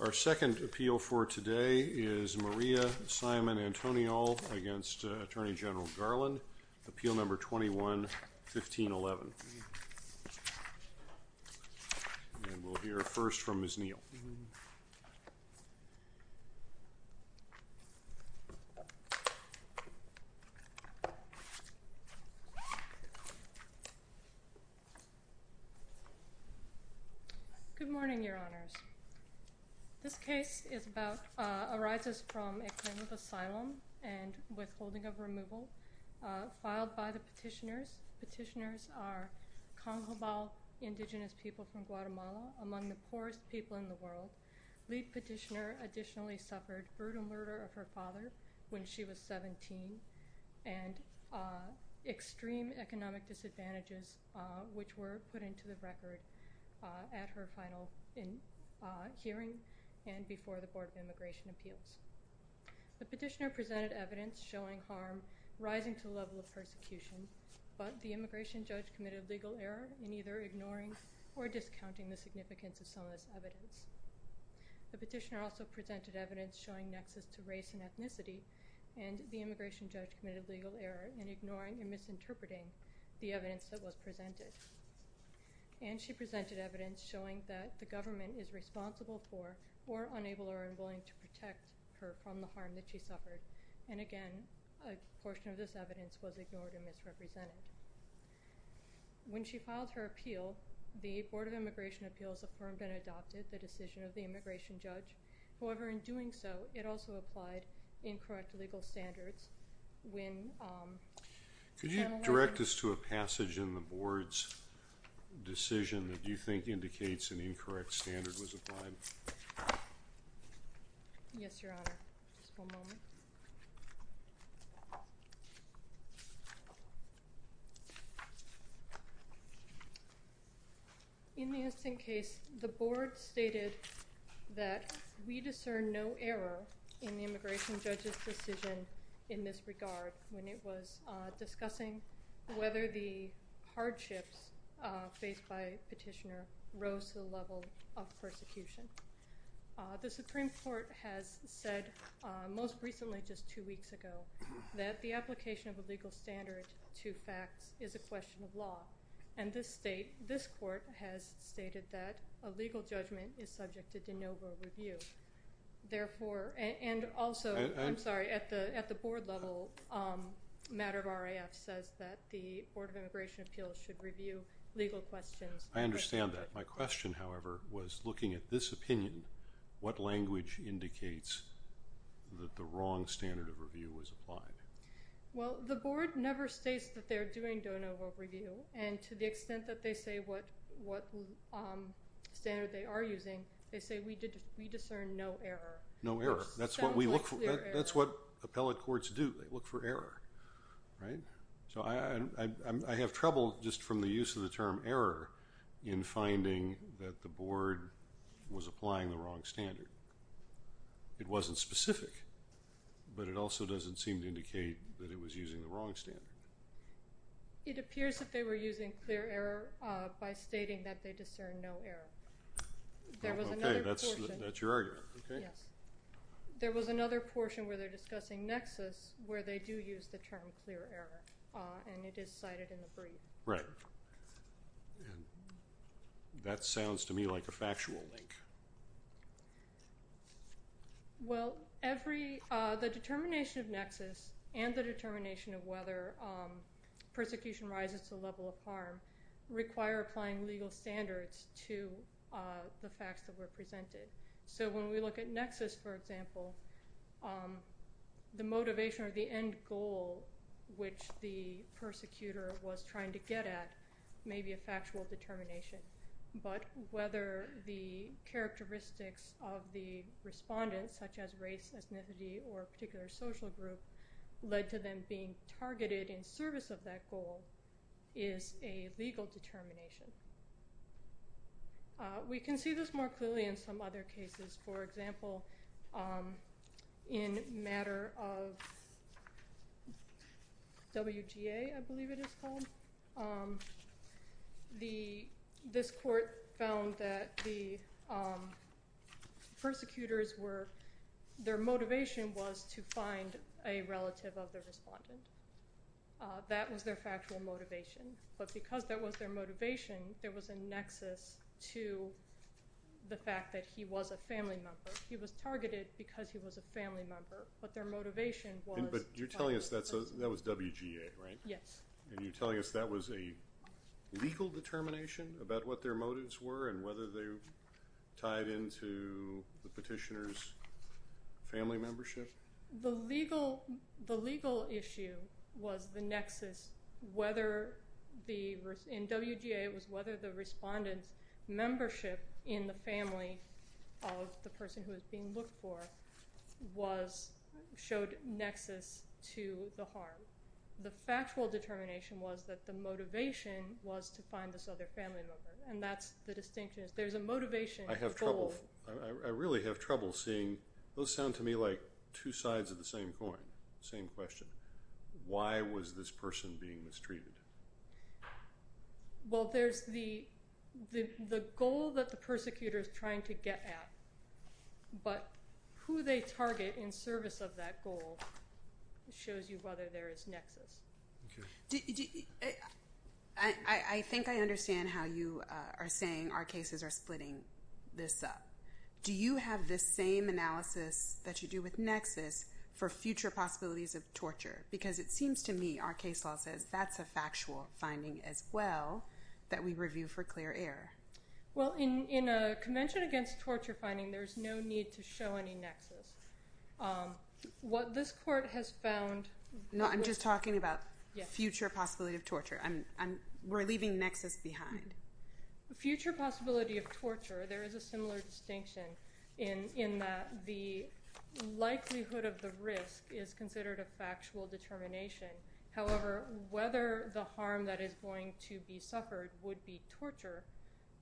Our second appeal for today is Maria Simon-Antonio against Attorney General Garland, Appeal Number 21-1511. And we'll hear first from Ms. Neal. Good morning, Your Honors. This case arises from a claim of asylum and withholding of removal filed by the petitioners. Petitioners are Congolese indigenous people from Guatemala, among the poorest people in the world. Lead petitioner additionally suffered brutal murder of her father when she was 17 and extreme economic disadvantages which were put into the record at her final hearing and before the Board of Immigration Appeals. The petitioner presented evidence showing harm rising to the level of persecution, but the immigration judge committed legal error in either ignoring or discounting the significance of some of this evidence. The petitioner also presented evidence showing nexus to race and ethnicity, and the immigration judge committed legal error in ignoring and misinterpreting the evidence that was presented. And she presented evidence showing that the government is responsible for or unable or unwilling to protect her from the harm that she suffered. And again, a portion of this evidence was ignored and misrepresented. When she filed her appeal, the Board of Immigration Appeals affirmed and adopted the decision of the immigration judge. However, in doing so, it also applied incorrect legal standards. Could you direct us to a passage in the Board's decision that you think indicates an incorrect standard was applied? Yes, Your Honor. Just one moment. In the instant case, the Board stated that we discern no error in the immigration judge's decision in this regard when it was discussing whether the hardships faced by the petitioner rose to the level of persecution. The Supreme Court has said, most recently just two weeks ago, that the application of a legal standard to facts is a question of law. And this state, this court, has stated that a legal judgment is subject to de novo review. Therefore, and also, I'm sorry, at the Board level, matter of RAF says that the Board of Immigration Appeals should review legal questions. I understand that. My question, however, was looking at this opinion, what language indicates that the wrong standard of review was applied? Well, the Board never states that they're doing de novo review. And to the extent that they say what standard they are using, they say we discern no error. No error. That's what we look for. That's what appellate courts do. They look for error. Right? So I have trouble just from the use of the term error in finding that the Board was applying the wrong standard. It wasn't specific, but it also doesn't seem to indicate that it was using the wrong standard. It appears that they were using clear error by stating that they discern no error. Okay. That's your argument. Okay. Yes. There was another portion where they're discussing nexus, where they do use the term clear error, and it is cited in the brief. Right. That sounds to me like a factual link. Well, the determination of nexus and the determination of whether persecution rises to the level of harm require applying legal standards to the facts that were presented. So when we look at nexus, for example, the motivation or the end goal, which the persecutor was trying to get at, may be a factual determination. But whether the characteristics of the respondents, such as race, ethnicity or particular social group, led to them being targeted in service of that goal is a legal determination. We can see this more clearly in some other cases. For example, in a matter of WGA, I believe it is called, this court found that the persecutors were, their motivation was to find a relative of the respondent. That was their factual motivation. But because that was their motivation, there was a nexus to the fact that he was a family member. He was targeted because he was a family member, but their motivation was... But you're telling us that was WGA, right? Yes. And you're telling us that was a legal determination about what their motives were and whether they tied into the petitioner's family membership? The legal issue was the nexus. In WGA, it was whether the respondent's membership in the family of the person who was being looked for showed nexus to the harm. The factual determination was that the motivation was to find this other family member. And that's the distinction. There's a motivation goal. I really have trouble seeing, those sound to me like two sides of the same coin, same question. Why was this person being mistreated? Well, there's the goal that the persecutor is trying to get at, but who they target in service of that goal shows you whether there is nexus. I think I understand how you are saying our cases are splitting this up. Do you have this same analysis that you do with nexus for future possibilities of torture? Because it seems to me our case law says that's a factual finding as well that we review for clear error. Well, in a convention against torture finding, there's no need to show any nexus. What this court has found... No, I'm just talking about future possibility of torture. We're leaving nexus behind. Future possibility of torture, there is a similar distinction in that the likelihood of the risk is considered a factual determination. However, whether the harm that is going to be suffered would be torture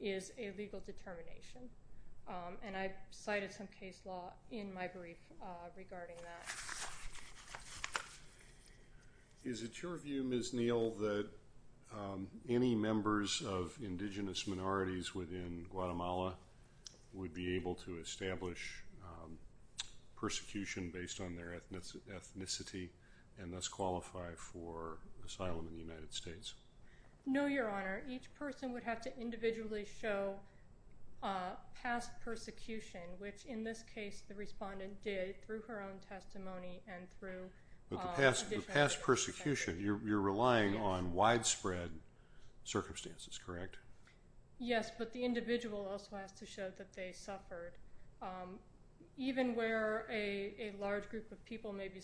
is a legal determination. I cited some case law in my brief regarding that. Is it your view, Ms. Neal, that any members of indigenous minorities within Guatemala would be able to establish persecution based on their ethnicity and thus qualify for asylum in the United States? No, Your Honor. Each person would have to individually show past persecution, which in this case the respondent did through her own testimony and through... But the past persecution, you're relying on widespread circumstances, correct? Yes, but the individual also has to show that they suffered. Even where a large group of people may be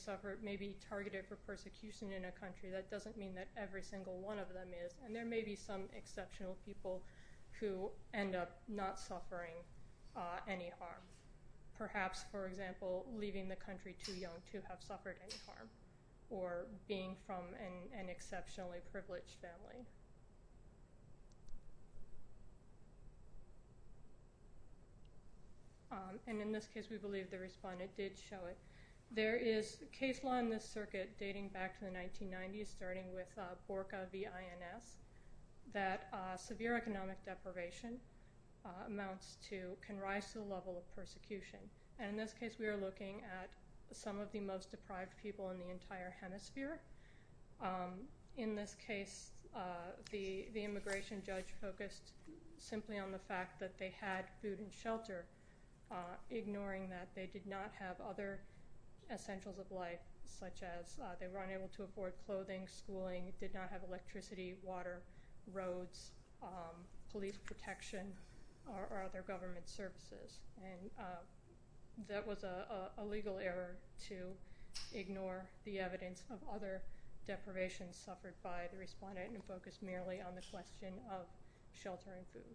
targeted for persecution in a country, that doesn't mean that every single one of them is. And there may be some exceptional people who end up not suffering any harm. Perhaps, for example, leaving the country too young to have suffered any harm or being from an exceptionally privileged family. And in this case, we believe the respondent did show it. There is case law in this circuit dating back to the 1990s, starting with Borca v. INS, that severe economic deprivation amounts to, can rise to the level of persecution. And in this case, we are looking at some of the most deprived people in the entire hemisphere. In this case, the immigration judge focused simply on the fact that they had food and shelter, ignoring that they did not have other essentials of life, such as they were unable to afford clothing, schooling, did not have electricity, water, roads, police protection, or other government services. And that was a legal error to ignore the evidence of other deprivation suffered by the respondent and focus merely on the question of shelter and food.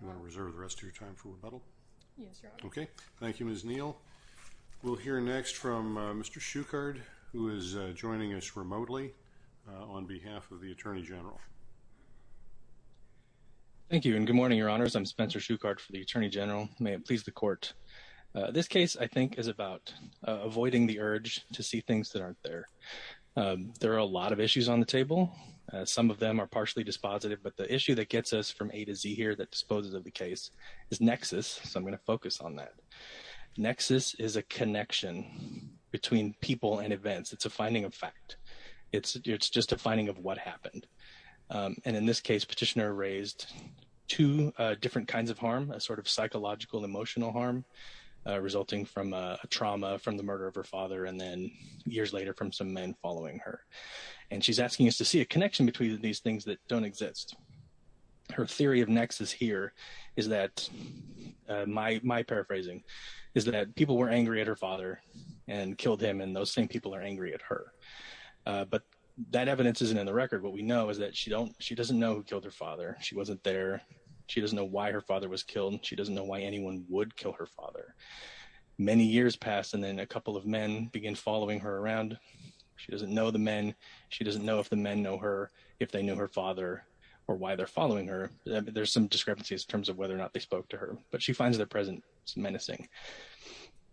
Do you want to reserve the rest of your time for rebuttal? Yes, Your Honor. Okay. Thank you, Ms. Neal. We'll hear next from Mr. Shuchard, who is joining us remotely, on behalf of the Attorney General. Thank you, and good morning, Your Honors. I'm Spencer Shuchard for the Attorney General. May it please the Court. This case, I think, is about avoiding the urge to see things that aren't there. There are a lot of issues on the table. Some of them are partially dispositive, but the issue that gets us from A to Z here that disposes of the case is nexus, so I'm going to focus on that. Nexus is a connection between people and events. It's a finding of fact. It's just a finding of what happened. And in this case, Petitioner raised two different kinds of harm, a sort of psychological, emotional harm resulting from a trauma from the murder of her father and then, years later, from some men following her. And she's asking us to see a connection between these things that don't exist. Her theory of nexus here is that, my paraphrasing, is that people were angry at her father and killed him, and those same people are angry at her. But that evidence isn't in the record. What we know is that she doesn't know who killed her father. She wasn't there. She doesn't know why her father was killed. She doesn't know why anyone would kill her father. Many years pass, and then a couple of men begin following her around. She doesn't know the men. She doesn't know if the men know her, if they knew her father, or why they're following her. There's some discrepancies in terms of whether or not they spoke to her, but she finds their presence menacing.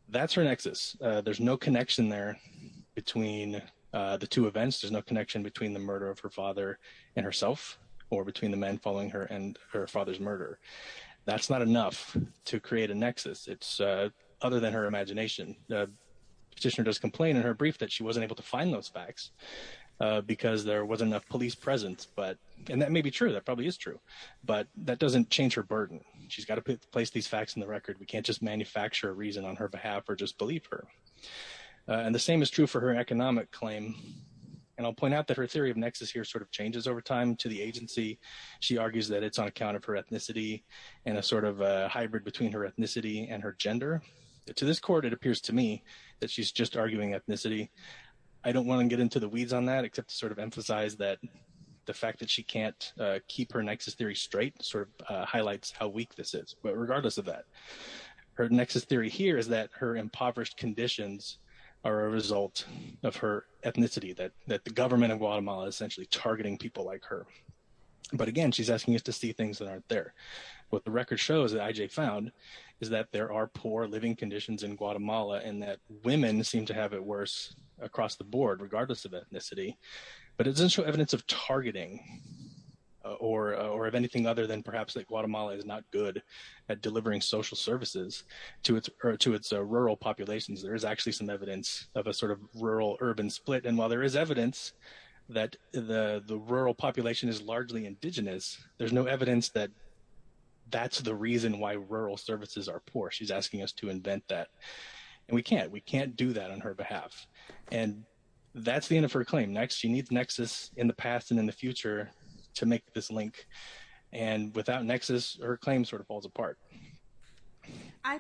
That's her nexus. There's no connection there between the two events. There's no connection between the murder of her father and herself or between the men following her and her father's murder. That's not enough to create a nexus. It's other than her imagination. The petitioner does complain in her brief that she wasn't able to find those facts because there wasn't enough police presence. And that may be true. That probably is true. But that doesn't change her burden. She's got to place these facts in the record. We can't just manufacture a reason on her behalf or just believe her. And the same is true for her economic claim. And I'll point out that her theory of nexus here sort of changes over time to the agency. She argues that it's on account of her ethnicity and a sort of hybrid between her ethnicity and her gender. To this court, it appears to me that she's just arguing ethnicity. I don't want to get into the weeds on that except to sort of emphasize that the fact that she can't keep her nexus theory straight sort of highlights how weak this is. But regardless of that, her nexus theory here is that her impoverished conditions are a result of her ethnicity, that the government of Guatemala is essentially targeting people like her. But, again, she's asking us to see things that aren't there. What the record shows that IJ found is that there are poor living conditions in Guatemala and that women seem to have it worse across the board, regardless of ethnicity. But it doesn't show evidence of targeting or of anything other than perhaps that Guatemala is not good at delivering social services to its rural populations. There is actually some evidence of a sort of rural-urban split. And while there is evidence that the rural population is largely indigenous, there's no evidence that that's the reason why rural services are poor. She's asking us to invent that. And we can't. We can't do that on her behalf. And that's the end of her claim. Next, she needs nexus in the past and in the future to make this link. And without nexus, her claim sort of falls apart. I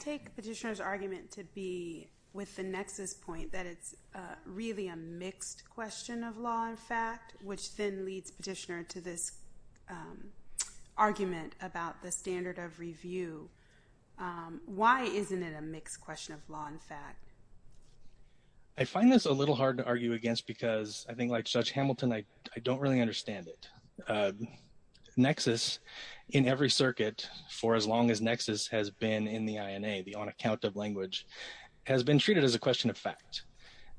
take Petitioner's argument to be with the nexus point that it's really a mixed question of law and fact, which then leads Petitioner to this argument about the standard of review. Why isn't it a mixed question of law and fact? I find this a little hard to argue against because I think, like Judge Hamilton, I don't really understand it. Nexus in every circuit for as long as nexus has been in the INA, the on account of language, has been treated as a question of fact.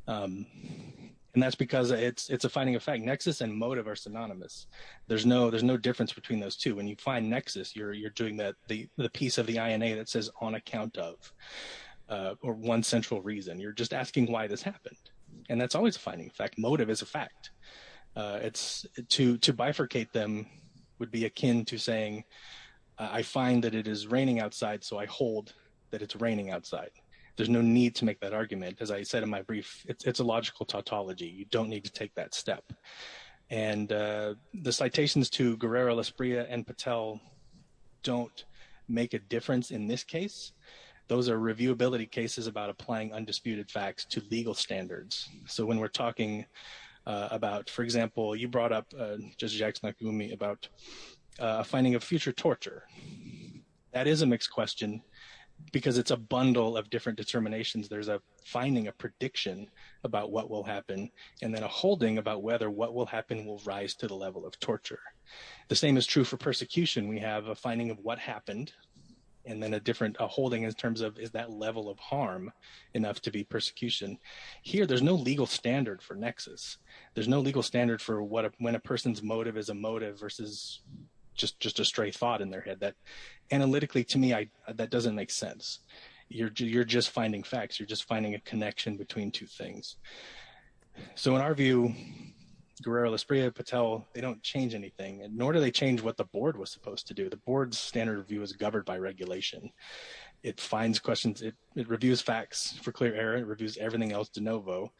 And that's because it's a finding of fact. Nexus and motive are synonymous. There's no difference between those two. When you find nexus, you're doing the piece of the INA that says on account of or one central reason. You're just asking why this happened. And that's always a finding of fact. Motive is a fact. To bifurcate them would be akin to saying I find that it is raining outside, so I hold that it's raining outside. There's no need to make that argument. As I said in my brief, it's a logical tautology. You don't need to take that step. And the citations to Guerrero, Laspria, and Patel don't make a difference in this case. Those are reviewability cases about applying undisputed facts to legal standards. So when we're talking about, for example, you brought up, Judge Jackson, about finding of future torture. That is a mixed question because it's a bundle of different determinations. There's a finding, a prediction about what will happen, and then a holding about whether what will happen will rise to the level of torture. The same is true for persecution. We have a finding of what happened and then a different holding in terms of is that level of harm enough to be persecution. Here, there's no legal standard for nexus. There's no legal standard for when a person's motive is a motive versus just a stray thought in their head. Analytically, to me, that doesn't make sense. You're just finding facts. You're just finding a connection between two things. So in our view, Guerrero, Laspria, Patel, they don't change anything, nor do they change what the board was supposed to do. The board's standard review is governed by regulation. It finds questions. It reviews facts for clear error. It reviews everything else de novo.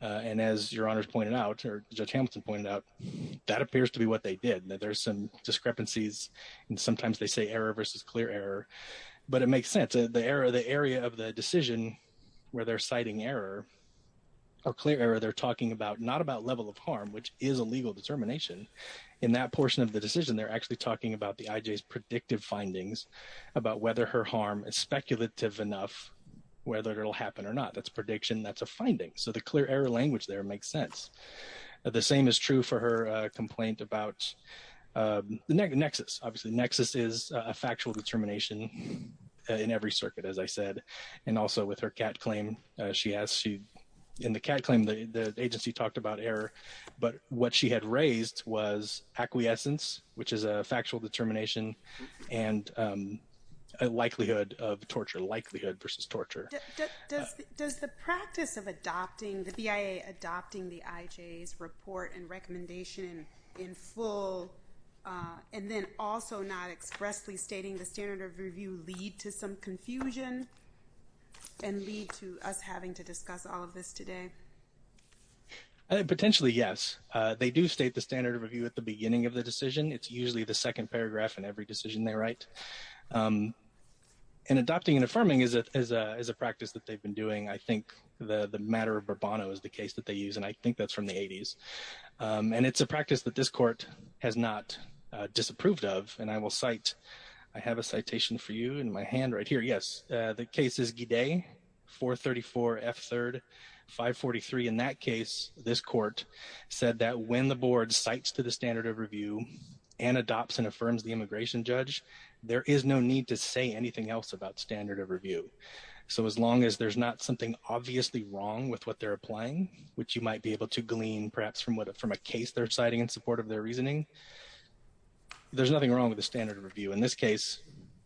And as Your Honors pointed out, or Judge Hamilton pointed out, that appears to be what they did. There's some discrepancies, and sometimes they say error versus clear error. But it makes sense. The area of the decision where they're citing error or clear error, they're talking about not about level of harm, which is a legal determination. In that portion of the decision, they're actually talking about the IJ's predictive findings, about whether her harm is speculative enough, whether it'll happen or not. That's a prediction. That's a finding. So the clear error language there makes sense. The same is true for her complaint about the nexus. Obviously, nexus is a factual determination in every circuit, as I said, and also with her cat claim she has. In the cat claim, the agency talked about error. But what she had raised was acquiescence, which is a factual determination, and likelihood of torture, likelihood versus torture. Does the practice of adopting, the BIA adopting the IJ's report and recommendation in full, and then also not expressly stating the standard of review lead to some confusion and lead to us having to discuss all of this today? Potentially, yes. They do state the standard of review at the beginning of the decision. It's usually the second paragraph in every decision they write. And adopting and affirming is a practice that they've been doing. I think the matter of Bourbon is the case that they use, and I think that's from the 80s. And it's a practice that this court has not disapproved of, and I will cite. I have a citation for you in my hand right here. Yes, the case is Gide, 434F3, 543. In that case, this court said that when the board cites to the standard of review and adopts and affirms the immigration judge, there is no need to say anything else about standard of review. So as long as there's not something obviously wrong with what they're applying, which you might be able to glean perhaps from a case they're citing in support of their reasoning, there's nothing wrong with the standard of review. In this case,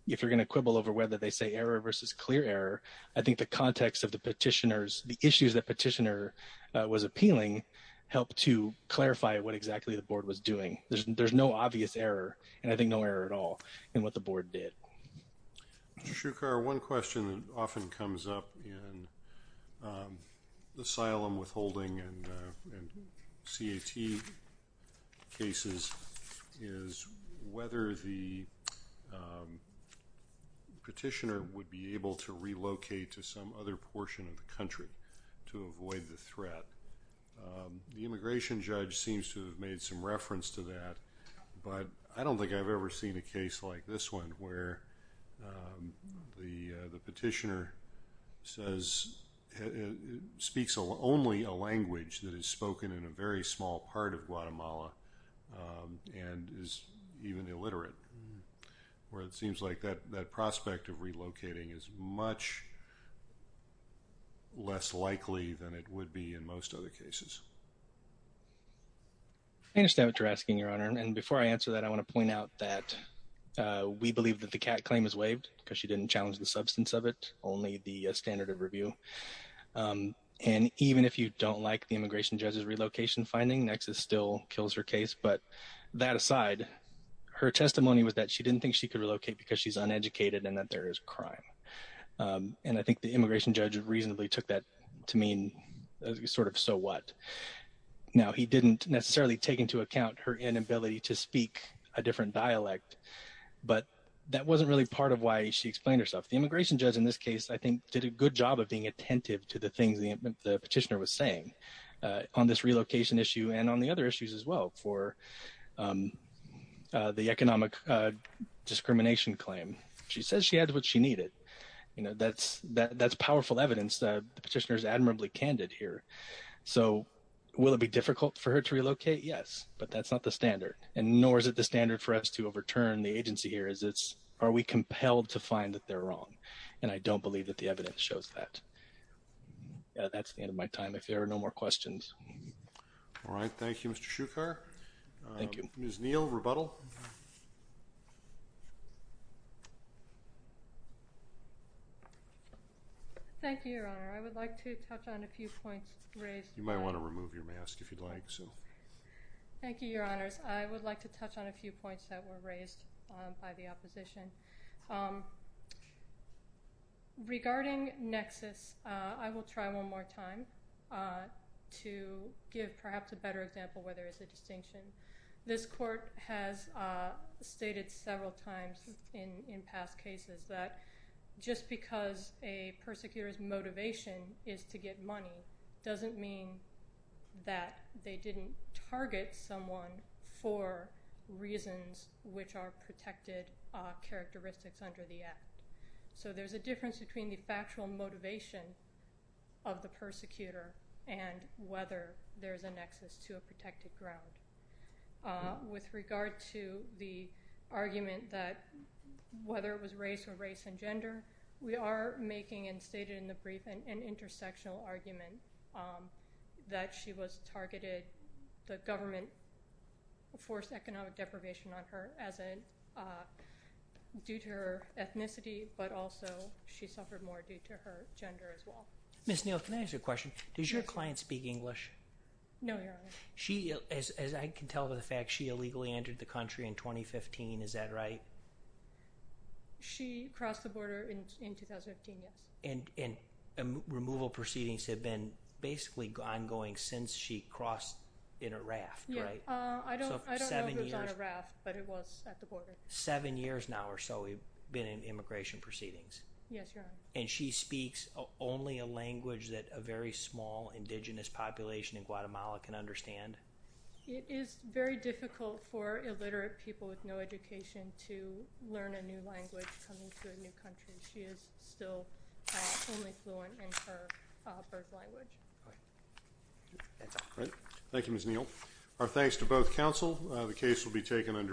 if you're going to quibble over whether they say error versus clear error, I think the context of the petitioners, the issues that petitioner was appealing helped to clarify what exactly the board was doing. There's no obvious error, and I think no error at all in what the board did. Mr. Shukar, one question that often comes up in asylum withholding and CAT cases is whether the petitioner would be able to relocate to some other portion of the country to avoid the threat. The immigration judge seems to have made some reference to that, but I don't think I've ever seen a case like this one where the petitioner speaks only a language that is spoken in a very small part of Guatemala and is even illiterate, where it seems like that prospect of relocating is much less likely than it would be in most other cases. I understand what you're asking, Your Honor. And before I answer that, I want to point out that we believe that the CAT claim is waived because she didn't challenge the substance of it, only the standard of review. And even if you don't like the immigration judge's relocation finding, Nexus still kills her case. But that aside, her testimony was that she didn't think she could relocate because she's uneducated and that there is crime. And I think the immigration judge reasonably took that to mean sort of so what? Now, he didn't necessarily take into account her inability to speak a different dialect, but that wasn't really part of why she explained herself. The immigration judge in this case, I think, did a good job of being attentive to the things the petitioner was saying on this relocation issue and on the other issues as well for the economic discrimination claim. She says she had what she needed. That's powerful evidence. The petitioner is admirably candid here. So will it be difficult for her to relocate? Yes. But that's not the standard. And nor is it the standard for us to overturn the agency here. It's are we compelled to find that they're wrong? And I don't believe that the evidence shows that. That's the end of my time. If there are no more questions. All right. Thank you, Mr. Shukar. Thank you. Ms. Neal, rebuttal. Thank you, Your Honor. I would like to touch on a few points raised. You might want to remove your mask if you'd like. Thank you, Your Honors. I would like to touch on a few points that were raised by the opposition. Regarding nexus, I will try one more time to give perhaps a better example where there is a distinction. This court has stated several times in past cases that just because a persecutor's motivation is to get money doesn't mean that they didn't target someone for reasons which are protected characteristics under the act. So there's a difference between the factual motivation of the persecutor and whether there's a nexus to a protected ground. With regard to the argument that whether it was race or race and gender, we are making, and stated in the brief, an intersectional argument that she was targeted. The government forced economic deprivation on her due to her ethnicity, but also she suffered more due to her gender as well. Ms. Neal, can I ask you a question? Does your client speak English? No, Your Honor. As I can tell by the fact, she illegally entered the country in 2015. Is that right? She crossed the border in 2015, yes. Removal proceedings have been basically ongoing since she crossed in a raft, right? I don't know if it was on a raft, but it was at the border. Seven years now or so, we've been in immigration proceedings. Yes, Your Honor. And she speaks only a language that a very small indigenous population in Guatemala can understand? It is very difficult for illiterate people with no education to learn a new language coming to a new country. She is still only fluent in her first language. All right. That's all. All right. Thank you, Ms. Neal. Our thanks to both counsel. The case will be taken under adjournment.